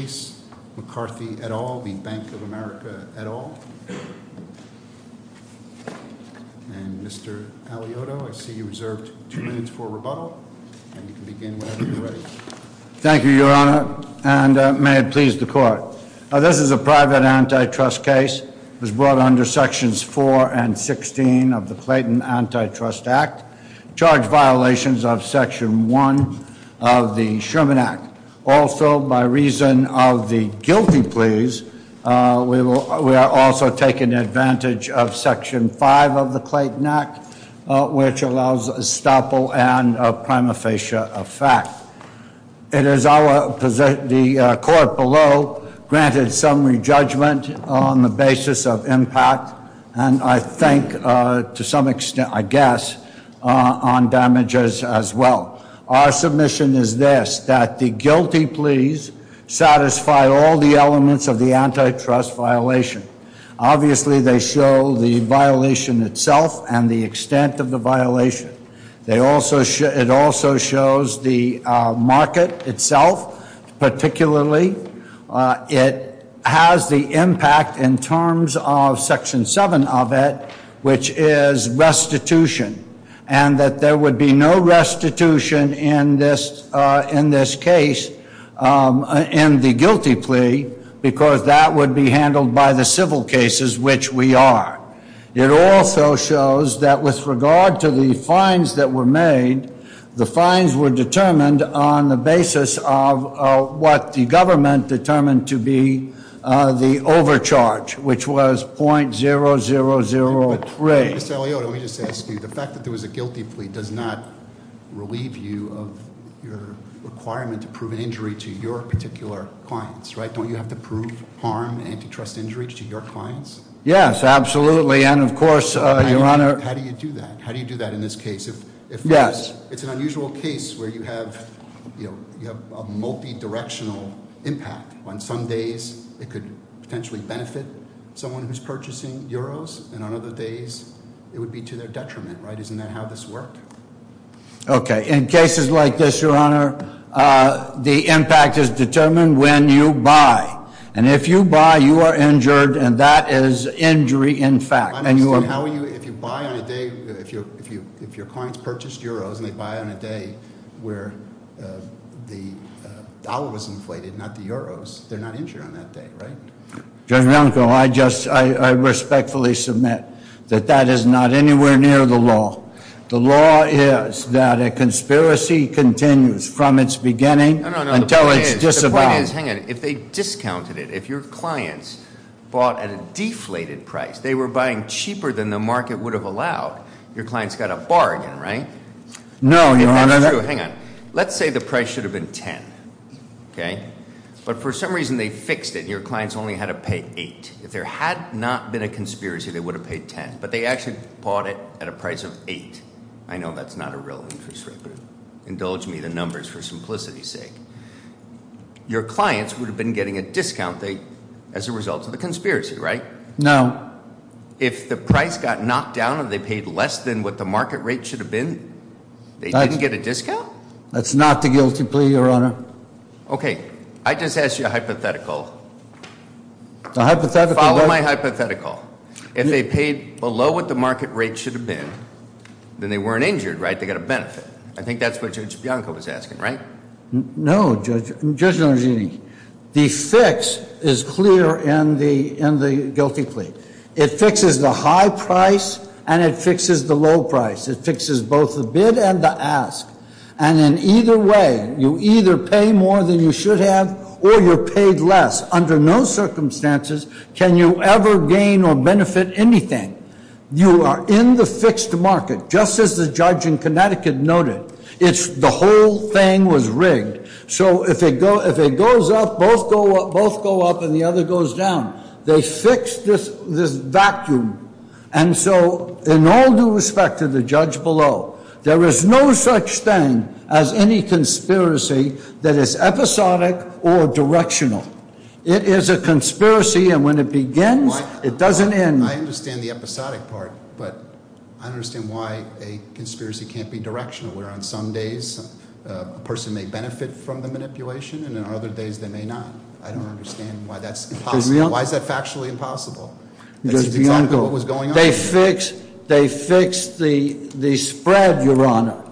Mr. Chase, McCarthy, et al., Bank of America, et al., and Mr. Alioto, I see you reserve two minutes for rebuttal, and you can begin whenever you're ready. Thank you, Your Honor, and may it please the Court. This is a private antitrust case. It was brought under Sections 4 and 16 of the Clayton Antitrust Act. It charged violations of Section 1 of the Sherman Act. Also, by reason of the guilty pleas, we are also taking advantage of Section 5 of the Clayton Act, which allows estoppel and prima facie effect. It is our position, the Court below, granted summary judgment on the basis of impact, and I think, to some extent, I guess, on damages as well. Our submission is this, that the guilty pleas satisfy all the elements of the antitrust violation. Obviously, they show the violation itself and the extent of the violation. It also shows the market itself, particularly. It has the impact in terms of Section 7 of it, which is restitution, and that there would be no restitution in this case, in the guilty plea, because that would be handled by the civil cases, which we are. It also shows that with regard to the fines that were made, the fines were determined on the basis of what the government determined to be the overcharge, which was 0.0003. Mr. Aliota, let me just ask you. The fact that there was a guilty plea does not relieve you of your requirement to prove an injury to your particular clients, right? Don't you have to prove harm, antitrust injuries to your clients? Yes, absolutely, and of course, Your Honor. How do you do that? How do you do that in this case? Yes. It's an unusual case where you have a multidirectional impact. On some days, it could potentially benefit someone who's purchasing euros, and on other days, it would be to their detriment, right? Isn't that how this worked? Okay. In cases like this, Your Honor, the impact is determined when you buy. And if you buy, you are injured, and that is injury in fact. I don't understand. How are you, if you buy on a day, if your clients purchased euros, and they buy on a day where the dollar was inflated, not the euros, they're not injured on that day, right? Judge Malenkov, I respectfully submit that that is not anywhere near the law. The law is that a conspiracy continues from its beginning until it's disavowed. The point is, hang on, if they discounted it, if your clients bought at a deflated price, they were buying cheaper than the market would have allowed, your clients got a bargain, right? No, Your Honor. If that's true, hang on. Let's say the price should have been ten, okay? But for some reason, they fixed it. Your clients only had to pay eight. If there had not been a conspiracy, they would have paid ten. But they actually bought it at a price of eight. I know that's not a real interest rate, but indulge me in the numbers for simplicity's sake. Your clients would have been getting a discount date as a result of the conspiracy, right? No. If the price got knocked down and they paid less than what the market rate should have been, they didn't get a discount? That's not the guilty plea, Your Honor. Okay. I just asked you a hypothetical. The hypothetical- Follow my hypothetical. If they paid below what the market rate should have been, then they weren't injured, right? They got a benefit. I think that's what Judge Bianco was asking, right? No, Judge Nugent. The fix is clear in the guilty plea. It fixes the high price and it fixes the low price. It fixes both the bid and the ask. And in either way, you either pay more than you should have or you're paid less. Under no circumstances can you ever gain or benefit anything. You are in the fixed market, just as the judge in Connecticut noted. The whole thing was rigged. So if it goes up, both go up and the other goes down. They fixed this vacuum. And so in all due respect to the judge below, there is no such thing as any conspiracy that is episodic or directional. It is a conspiracy and when it begins, it doesn't end. I understand the episodic part, but I understand why a conspiracy can't be directional, where on some days a person may benefit from the manipulation and on other days they may not. I don't understand why that's impossible. Why is that factually impossible? Judge Bianco. That's exactly what was going on here. They fixed the spread, Your Honor.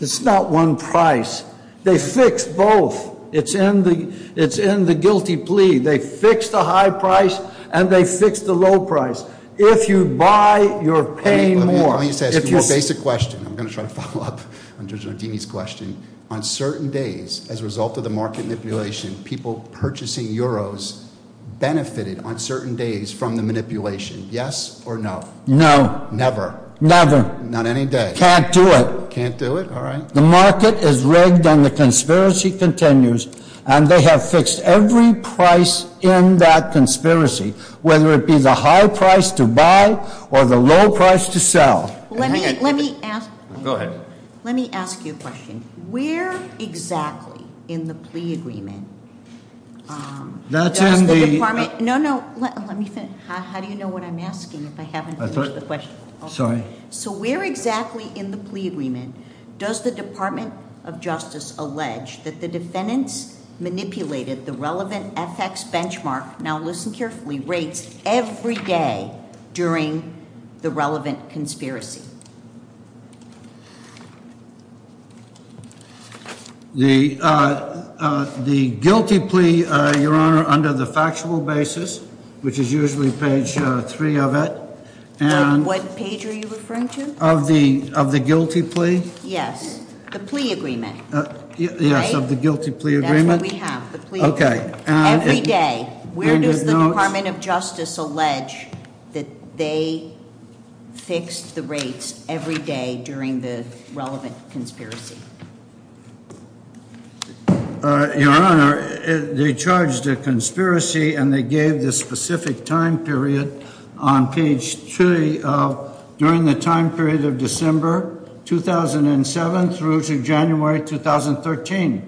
It's not one price. They fixed both. It's in the guilty plea. They fixed the high price and they fixed the low price. If you buy, you're paying more. Let me just ask you a basic question. I'm going to try to follow up on Judge Nardini's question. On certain days, as a result of the market manipulation, people purchasing euros benefited on certain days from the manipulation. Yes or no? No. Never? Never. Not any day? Can't do it. Can't do it? All right. The market is rigged and the conspiracy continues. And they have fixed every price in that conspiracy, whether it be the high price to buy or the low price to sell. Let me ask you a question. Where exactly in the plea agreement does the department- That's in the- No, no, let me finish. How do you know what I'm asking if I haven't finished the question? Sorry. So where exactly in the plea agreement does the Department of Justice allege that the defendants manipulated the relevant FX benchmark, now listen carefully, rates every day during the relevant conspiracy? The guilty plea, Your Honor, under the factual basis, which is usually page three of it- What page are you referring to? Of the guilty plea? Yes, the plea agreement. Yes, of the guilty plea agreement. That's what we have, the plea agreement. Okay. Every day. Where does the Department of Justice allege that they fixed the rates every day during the relevant conspiracy? Your Honor, they charged a conspiracy and they gave the specific time period on page three of during the time period of December 2007 through to January 2013.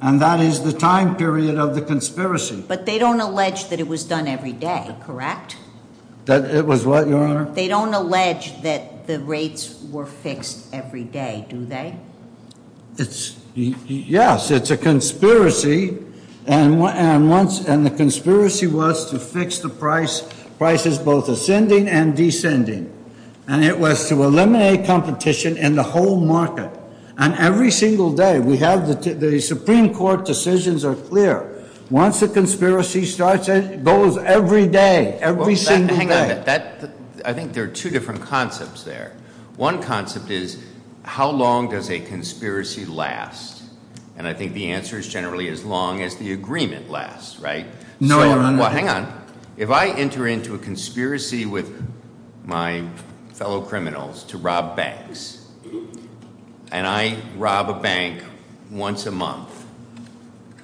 And that is the time period of the conspiracy. But they don't allege that it was done every day, correct? They don't allege that the rates were fixed every day, do they? Yes, it's a conspiracy. And the conspiracy was to fix the prices both ascending and descending. And it was to eliminate competition in the whole market. And every single day. The Supreme Court decisions are clear. Hang on a minute. I think there are two different concepts there. One concept is how long does a conspiracy last? And I think the answer is generally as long as the agreement lasts, right? No, Your Honor. Hang on. If I enter into a conspiracy with my fellow criminals to rob banks, and I rob a bank once a month,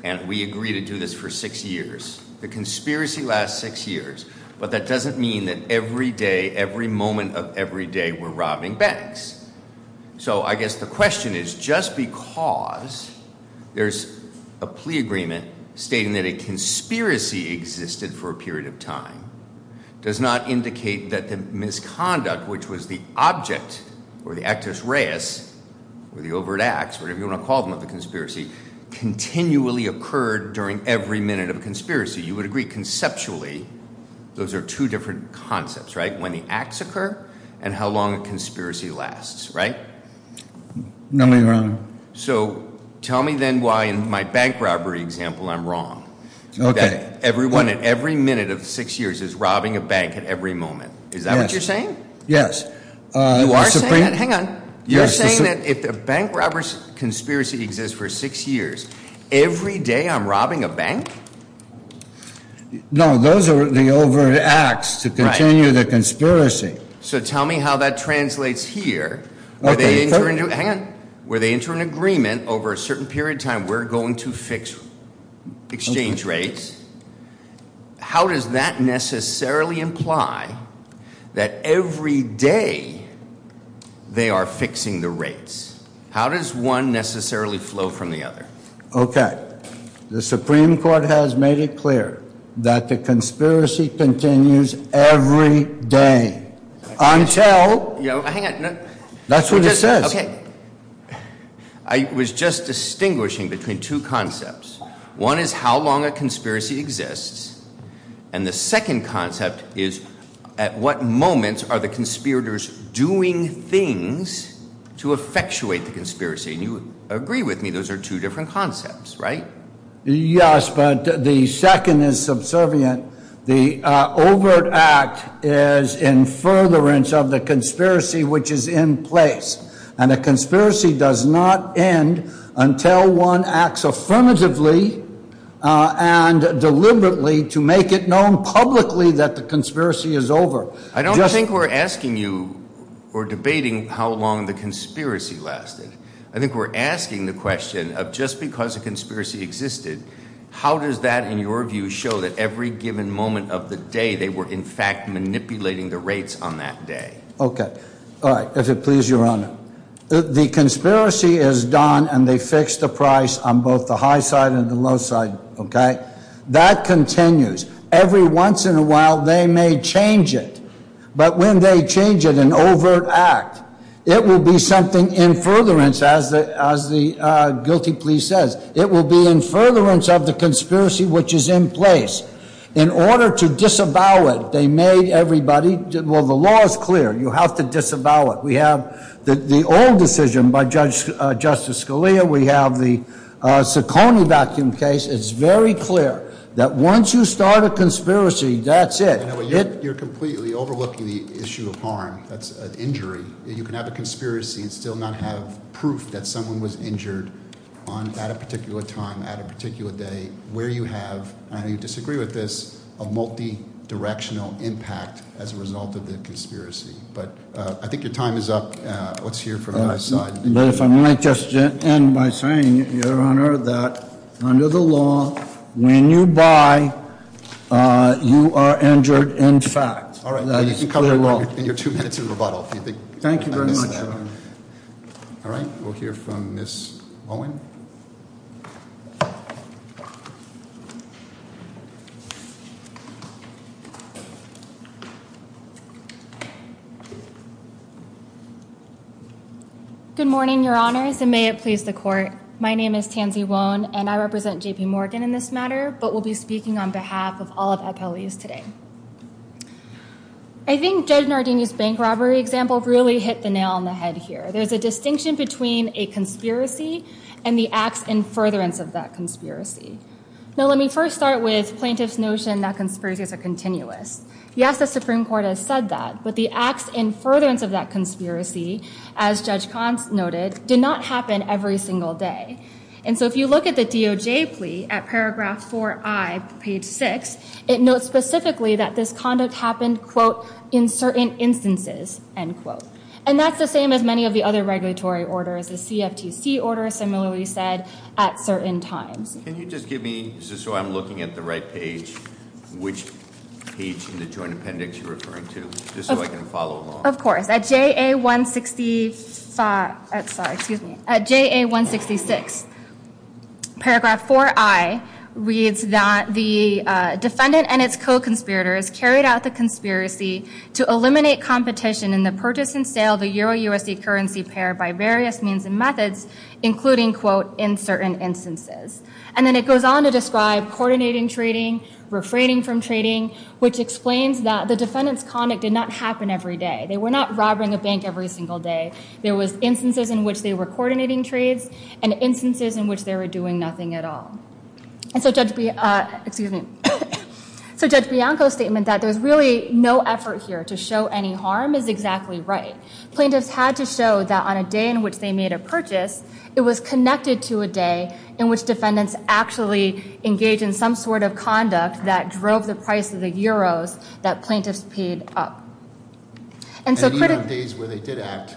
and we agree to do this for six years. The conspiracy lasts six years. But that doesn't mean that every day, every moment of every day, we're robbing banks. So I guess the question is, just because there's a plea agreement stating that a conspiracy existed for a period of time, does not indicate that the misconduct, which was the object, or the actus reus, or the overt acts, whatever you want to call them of the conspiracy, continually occurred during every minute of a conspiracy. You would agree conceptually those are two different concepts, right? And how long a conspiracy lasts, right? No, Your Honor. So tell me then why in my bank robbery example I'm wrong. Okay. Everyone at every minute of six years is robbing a bank at every moment. Is that what you're saying? Yes. You are saying that? Hang on. You're saying that if the bank robber conspiracy exists for six years, every day I'm robbing a bank? No, those are the overt acts to continue the conspiracy. So tell me how that translates here. Hang on. Where they enter an agreement over a certain period of time, we're going to fix exchange rates. How does that necessarily imply that every day they are fixing the rates? How does one necessarily flow from the other? Okay. The Supreme Court has made it clear that the conspiracy continues every day until. Hang on. That's what it says. Okay. I was just distinguishing between two concepts. One is how long a conspiracy exists. And the second concept is at what moments are the conspirators doing things to effectuate the conspiracy? And you agree with me those are two different concepts, right? Yes, but the second is subservient. The overt act is in furtherance of the conspiracy which is in place. And a conspiracy does not end until one acts affirmatively and deliberately to make it known publicly that the conspiracy is over. I don't think we're asking you or debating how long the conspiracy lasted. I think we're asking the question of just because a conspiracy existed, how does that in your view show that every given moment of the day they were in fact manipulating the rates on that day? Okay. All right. If it pleases your honor. The conspiracy is done and they fixed the price on both the high side and the low side, okay? That continues. Every once in a while they may change it. But when they change it, an overt act, it will be something in furtherance as the guilty plea says. It will be in furtherance of the conspiracy which is in place. In order to disavow it, they made everybody, well, the law is clear. You have to disavow it. We have the old decision by Justice Scalia. We have the Ciccone Vacuum case. It's very clear that once you start a conspiracy, that's it. You're completely overlooking the issue of harm. That's an injury. You can have a conspiracy and still not have proof that someone was injured at a particular time, at a particular day, where you have, and I disagree with this, a multi-directional impact as a result of the conspiracy. But I think your time is up. Let's hear from the high side. But if I might just end by saying, Your Honor, that under the law, when you buy, you are injured in fact. That's the law. All right, you can cover it in your two minutes of rebuttal. Thank you very much, Your Honor. All right, we'll hear from Ms. Owen. Good morning, Your Honors, and may it please the court. My name is Tansy Owen, and I represent JPMorgan in this matter, but will be speaking on behalf of all of FLEs today. I think Judge Nardini's bank robbery example really hit the nail on the head here. There's a distinction between a conspiracy and the acts in furtherance of that conspiracy. Now, let me first start with plaintiff's notion that conspiracies are continuous. Yes, the Supreme Court has said that, but the acts in furtherance of that conspiracy, as Judge Kantz noted, did not happen every single day. And so if you look at the DOJ plea at paragraph 4i, page 6, it notes specifically that this conduct happened, quote, in certain instances, end quote. And that's the same as many of the other regulatory orders, the CFTC order similarly said, at certain times. Can you just give me, just so I'm looking at the right page, which page in the joint appendix you're referring to? Just so I can follow along. Of course. At JA 165, sorry, excuse me. At JA 166, paragraph 4i reads that the defendant and its co-conspirators carried out the conspiracy to eliminate competition in the purchase and And then it goes on to describe coordinating trading, refraining from trading, which explains that the defendant's conduct did not happen every day. They were not robbing a bank every single day. There was instances in which they were coordinating trades and instances in which they were doing nothing at all. And so Judge Bianco's statement that there's really no effort here to show any harm is exactly right. Plaintiffs had to show that on a day in which they made a purchase, it was connected to a day in which defendants actually engaged in some sort of conduct that drove the price of the euros that plaintiffs paid up. And so- And even on days where they did act,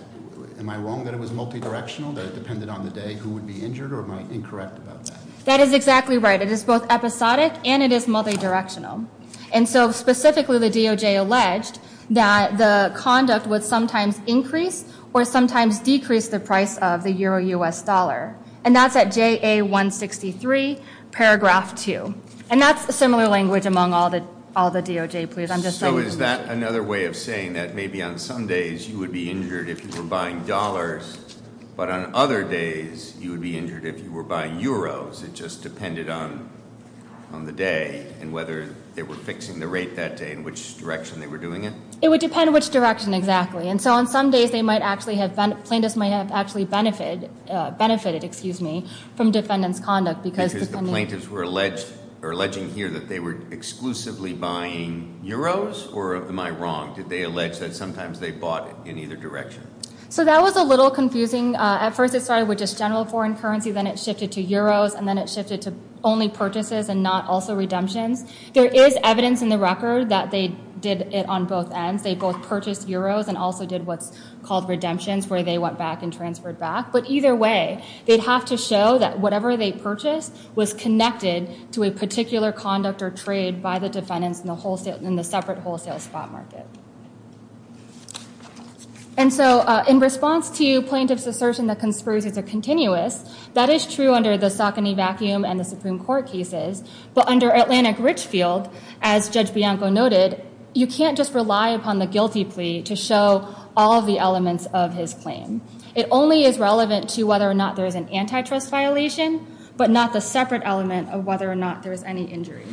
am I wrong that it was multidirectional? That it depended on the day who would be injured, or am I incorrect about that? That is exactly right. It is both episodic and it is multidirectional. And so specifically, the DOJ alleged that the conduct would sometimes increase or sometimes decrease the price of the Euro-US dollar. And that's at JA 163, paragraph 2. And that's a similar language among all the DOJ pleas. I'm just saying- So is that another way of saying that maybe on some days you would be injured if you were buying dollars, but on other days you would be injured if you were buying euros? It just depended on the day and whether they were fixing the rate that day and which direction they were doing it? It would depend which direction, exactly. And so on some days, plaintiffs might have actually benefited from defendants' conduct because- Because the plaintiffs were alleging here that they were exclusively buying euros, or am I wrong? Did they allege that sometimes they bought in either direction? So that was a little confusing. At first it started with just general foreign currency, then it shifted to euros, and then it shifted to only purchases and not also redemptions. There is evidence in the record that they did it on both ends. They both purchased euros and also did what's called redemptions, where they went back and transferred back. But either way, they'd have to show that whatever they purchased was connected to a particular conduct or trade by the defendants in the separate wholesale spot market. And so in response to plaintiffs' assertion that conspiracies are continuous, that is true under the Saucony vacuum and the Supreme Court cases, but under Atlantic Richfield, as Judge Bianco noted, you can't just rely upon the guilty plea to show all the elements of his claim. It only is relevant to whether or not there is an antitrust violation, but not the separate element of whether or not there is any injury.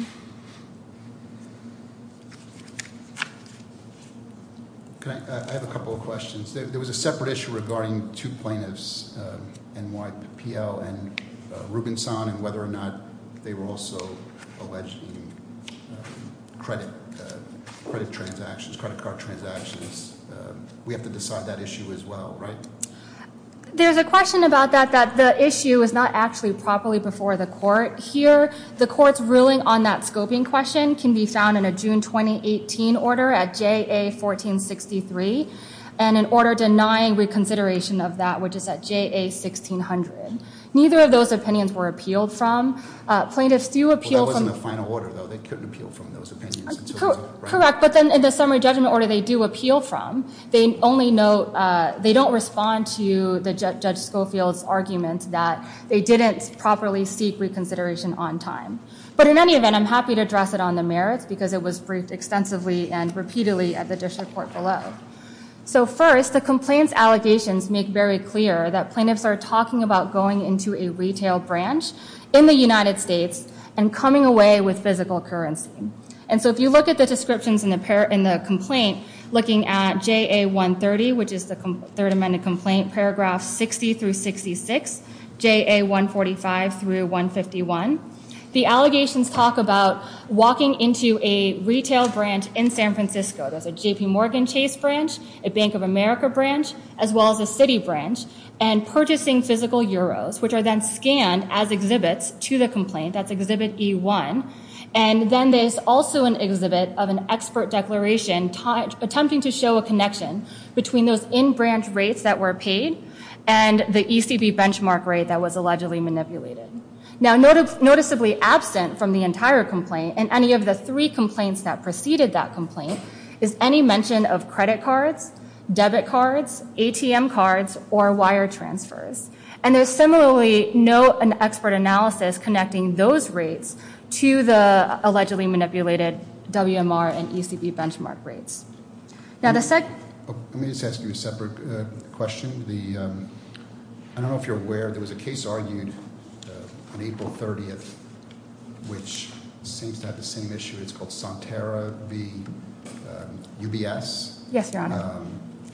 I have a couple of questions. There was a separate issue regarding two plaintiffs, NYPL and Rubenson, and whether or not they were also alleged in credit transactions, credit card transactions. We have to decide that issue as well, right? There's a question about that, that the issue is not actually properly before the court. Here, the court's ruling on that scoping question can be found in a June 2018 order at J.A. 1463 and an order denying reconsideration of that, which is at J.A. 1600. Neither of those opinions were appealed from. Plaintiffs do appeal from- Well, that wasn't the final order, though. They couldn't appeal from those opinions in terms of- Correct. But then in the summary judgment order, they do appeal from. They don't respond to Judge Schofield's argument that they didn't properly seek reconsideration on time. But in any event, I'm happy to address it on the merits, because it was briefed extensively and repeatedly at the district court below. First, the complaint's allegations make very clear that plaintiffs are talking about going into a retail branch in the United States and coming away with physical currency. And so if you look at the descriptions in the complaint, looking at J.A. 130, which is the Third Amendment complaint, paragraphs 60 through 66, J.A. 145 through 151, the allegations talk about walking into a retail branch in San Francisco. There's a J.P. Morgan Chase branch, a Bank of America branch, as well as a Citi branch, and purchasing physical euros, which are then scanned as exhibits to the complaint. That's Exhibit E1. And then there's also an exhibit of an expert declaration attempting to show a connection between those in-branch rates that were paid and the ECB benchmark rate that was allegedly manipulated. Now, noticeably absent from the entire complaint and any of the three complaints that preceded that complaint is any mention of credit cards, debit cards, ATM cards, or wire transfers. And there's similarly no expert analysis connecting those rates to the allegedly manipulated WMR and ECB benchmark rates. Let me just ask you a separate question. I don't know if you're aware there was a case argued on April 30th, which seems to have the same issue. It's called Santera v. UBS. Yes, Your Honor.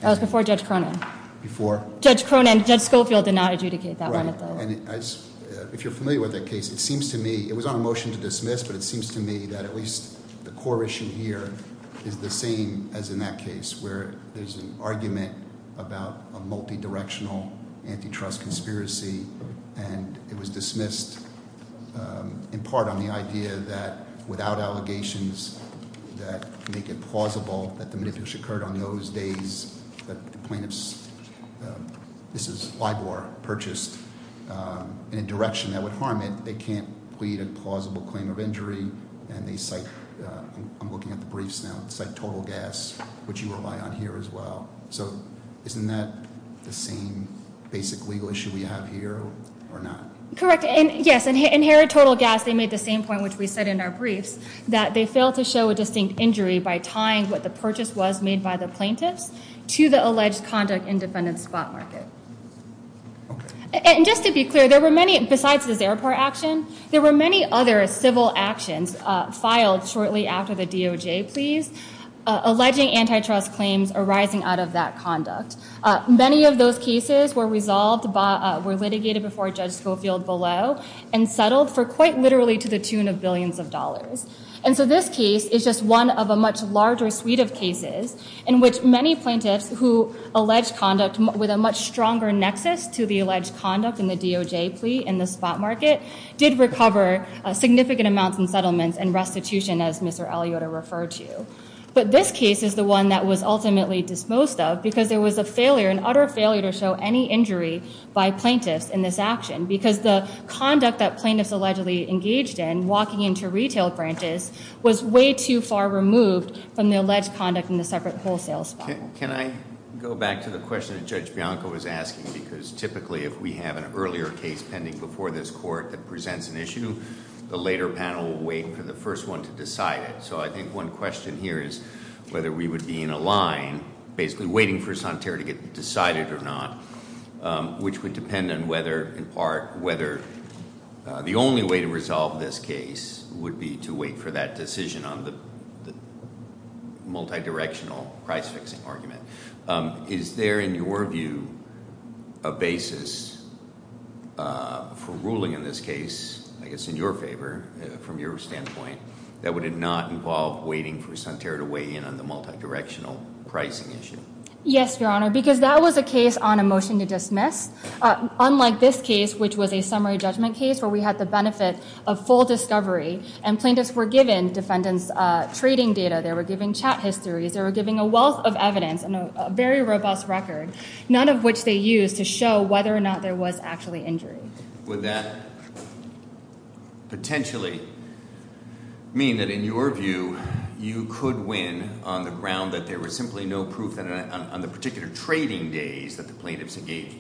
That was before Judge Cronin. Before? Judge Cronin. Judge Schofield did not adjudicate that one. If you're familiar with that case, it seems to me, it was on a motion to dismiss, but it seems to me that at least the core issue here is the same as in that case where there's an argument about a multidirectional antitrust conspiracy, and it was dismissed in part on the idea that without allegations that make it plausible that the manipulation occurred on those days that the plaintiffs, this is LIBOR, purchased in a direction that would harm it, they can't plead a plausible claim of injury, and they cite, I'm looking at the briefs now, they cite total gas, which you rely on here as well. So isn't that the same basic legal issue we have here or not? Correct. Yes, inherit total gas, they made the same point, which we said in our briefs, that they failed to show a distinct injury by tying what the purchase was made by the plaintiffs to the alleged conduct in defendant's spot market. And just to be clear, there were many, besides this airport action, there were many other civil actions filed shortly after the DOJ pleas, alleging antitrust claims arising out of that conduct. Many of those cases were resolved, were litigated before Judge Schofield below, and settled for quite literally to the tune of billions of dollars. And so this case is just one of a much larger suite of cases in which many plaintiffs who alleged conduct with a much stronger nexus to the alleged conduct in the DOJ plea in the spot market did recover significant amounts in settlements and restitution as Mr. Eliota referred to. But this case is the one that was ultimately disposed of because there was a failure, an utter failure to show any injury by plaintiffs in this action because the conduct that plaintiffs allegedly engaged in, walking into retail branches, was way too far removed from the alleged conduct in the separate wholesale spot. Can I go back to the question that Judge Bianco was asking? Because typically if we have an earlier case pending before this court that presents an issue, the later panel will wait for the first one to decide it. So I think one question here is whether we would be in a line, basically waiting for Sonterra to get decided or not, which would depend on whether, in part, whether the only way to resolve this case would be to wait for that decision on the multidirectional price-fixing argument. Is there, in your view, a basis for ruling in this case, I guess in your favor, from your standpoint, that would not involve waiting for Sonterra to weigh in on the multidirectional pricing issue? Yes, Your Honor, because that was a case on a motion to dismiss. Unlike this case, which was a summary judgment case where we had the benefit of full discovery and plaintiffs were given defendant's trading data, they were given chat histories, they were given a wealth of evidence and a very robust record, none of which they used to show whether or not there was actually injury. Would that potentially mean that, in your view, you could win on the ground that there was simply no proof on the particular trading days that the plaintiffs engaged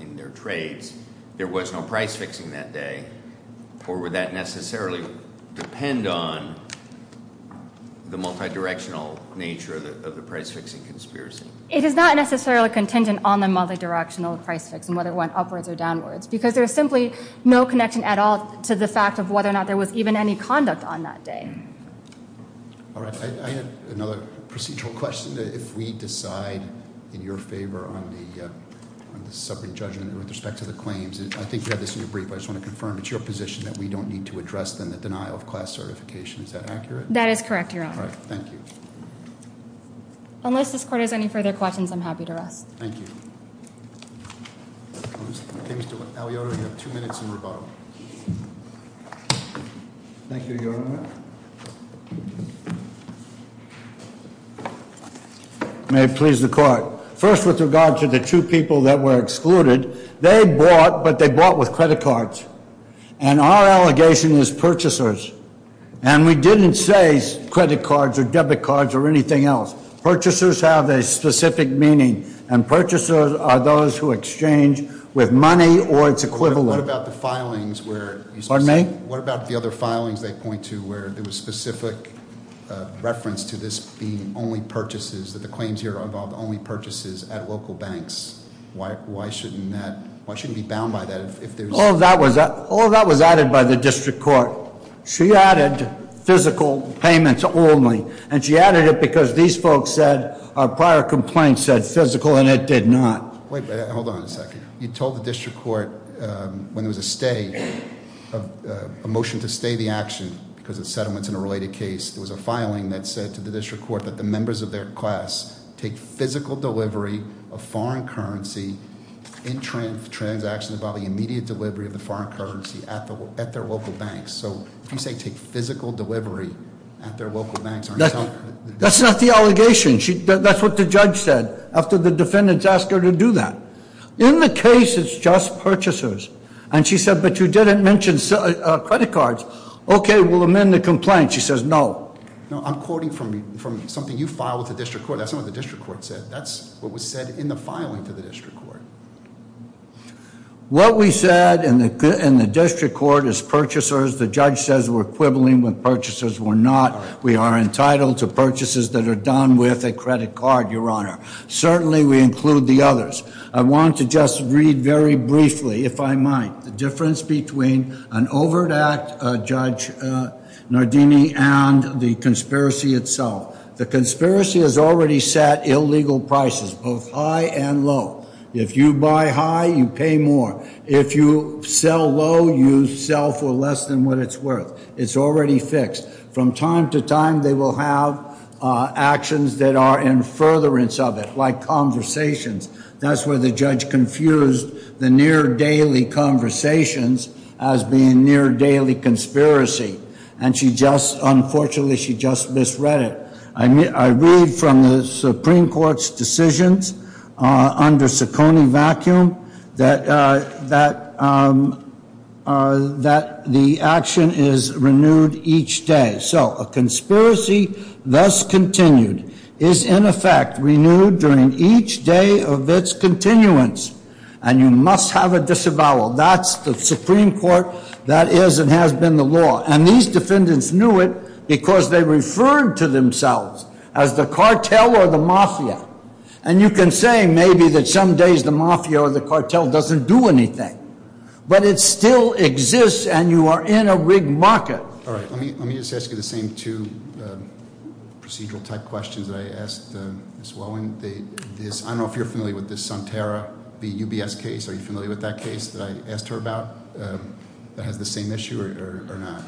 in their trades, there was no price-fixing that day, or would that necessarily depend on the multidirectional nature of the price-fixing conspiracy? It is not necessarily contingent on the multidirectional price-fixing, whether it went upwards or downwards, because there is simply no connection at all to the fact of whether or not there was even any conduct on that day. All right. I have another procedural question. If we decide in your favor on the summary judgment with respect to the claims, I think you had this in your brief, but I just want to confirm it's your position that we don't need to address the denial of class certification. Is that accurate? That is correct, Your Honor. All right. Thank you. Unless this Court has any further questions, I'm happy to rest. Thank you. Mr. Aliotta, you have two minutes in rebuttal. Thank you, Your Honor. May it please the Court. First, with regard to the two people that were excluded, they bought, but they bought with credit cards, and our allegation is purchasers, and we didn't say credit cards or debit cards or anything else. Purchasers have a specific meaning, and purchasers are those who exchange with money or its equivalent. What about the filings where- Pardon me? What about the other filings they point to where there was specific reference to this being only purchases, that the claims here involved only purchases at local banks? Why shouldn't that, why shouldn't it be bound by that if there's- All of that was added by the District Court. She added physical payments only, and she added it because these folks said, our prior complaint said physical, and it did not. Wait, hold on a second. You told the District Court when there was a stay, a motion to stay the action because of settlements in a related case, there was a filing that said to the District Court that the members of their class take physical delivery of foreign currency in transactions about the immediate delivery of the foreign currency at their local banks. So if you say take physical delivery at their local banks- That's not the allegation. That's what the judge said after the defendants asked her to do that. In the case, it's just purchasers, and she said, but you didn't mention credit cards. Okay, we'll amend the complaint. She says, no. No, I'm quoting from something you filed with the District Court. That's not what the District Court said. That's what was said in the filing for the District Court. What we said in the District Court is purchasers. The judge says we're quibbling with purchasers. We're not. We are entitled to purchases that are done with a credit card, Your Honor. Certainly, we include the others. I want to just read very briefly, if I might, the difference between an overt act, Judge Nardini, and the conspiracy itself. The conspiracy has already set illegal prices, both high and low. If you buy high, you pay more. If you sell low, you sell for less than what it's worth. It's already fixed. From time to time, they will have actions that are in furtherance of it, like conversations. That's where the judge confused the near-daily conversations as being near-daily conspiracy. Unfortunately, she just misread it. I read from the Supreme Court's decisions under Ciccone Vacuum that the action is renewed each day. So, a conspiracy thus continued is, in effect, renewed during each day of its continuance, and you must have it disavowed. That's the Supreme Court. That is and has been the law. And these defendants knew it because they referred to themselves as the cartel or the mafia. And you can say, maybe, that some days the mafia or the cartel doesn't do anything. But it still exists, and you are in a rigged market. All right. Let me just ask you the same two procedural-type questions that I asked Ms. Whelan. I don't know if you're familiar with this Sunterra v. UBS case. Are you familiar with that case that I asked her about that has the same issue or not?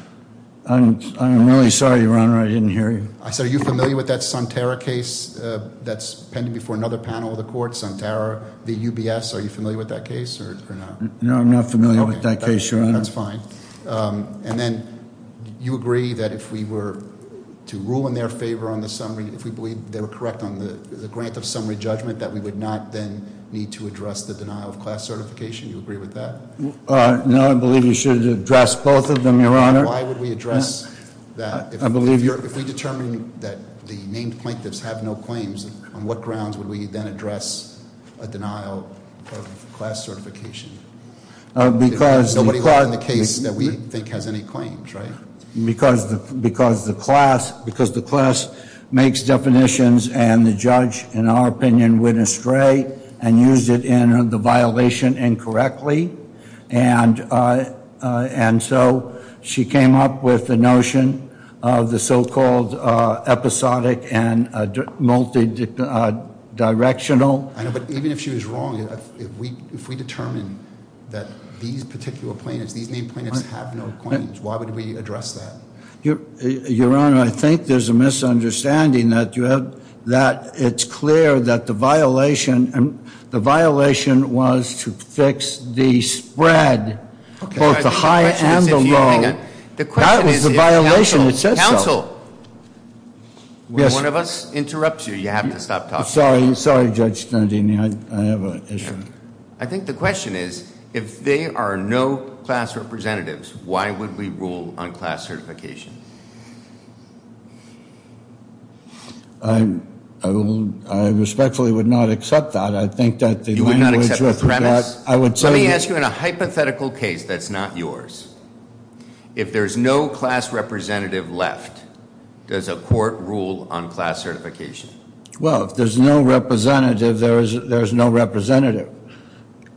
I'm really sorry, Your Honor. I didn't hear you. I said are you familiar with that Sunterra case that's pending before another panel of the court, Sunterra v. UBS? Are you familiar with that case or not? No, I'm not familiar with that case, Your Honor. That's fine. And then you agree that if we were to rule in their favor on the summary, if we believe they were correct on the grant of summary judgment, that we would not then need to address the denial of class certification? Do you agree with that? No, I believe you should address both of them, Your Honor. Why would we address that? If we determine that the named plaintiffs have no claims, on what grounds would we then address a denial of class certification? Because nobody in the case that we think has any claims, right? Because the class makes definitions and the judge, in our opinion, went astray and used it in the violation incorrectly. And so she came up with the notion of the so-called episodic and multidirectional. But even if she was wrong, if we determine that these particular plaintiffs, these named plaintiffs have no claims, why would we address that? Your Honor, I think there's a misunderstanding that it's clear that the violation was to fix the spread, both the high and the low. That was the violation, it said so. Counsel, one of us interrupts you. You have to stop talking. I'm sorry, Judge Stantini, I have an issue. I think the question is, if there are no class representatives, why would we rule on class certification? I respectfully would not accept that. You would not accept the premise? Let me ask you in a hypothetical case that's not yours. If there's no class representative left, does a court rule on class certification? Well, if there's no representative, there is no representative.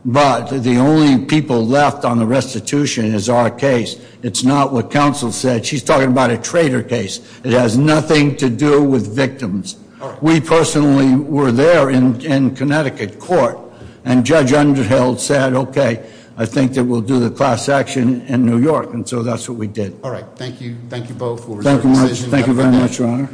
But the only people left on the restitution is our case. It's not what counsel said. She's talking about a traitor case. It has nothing to do with victims. We personally were there in Connecticut court, and Judge Underhill said, okay, I think that we'll do the class action in New York, and so that's what we did. All right. Thank you both for your decision. Thank you very much, Your Honor.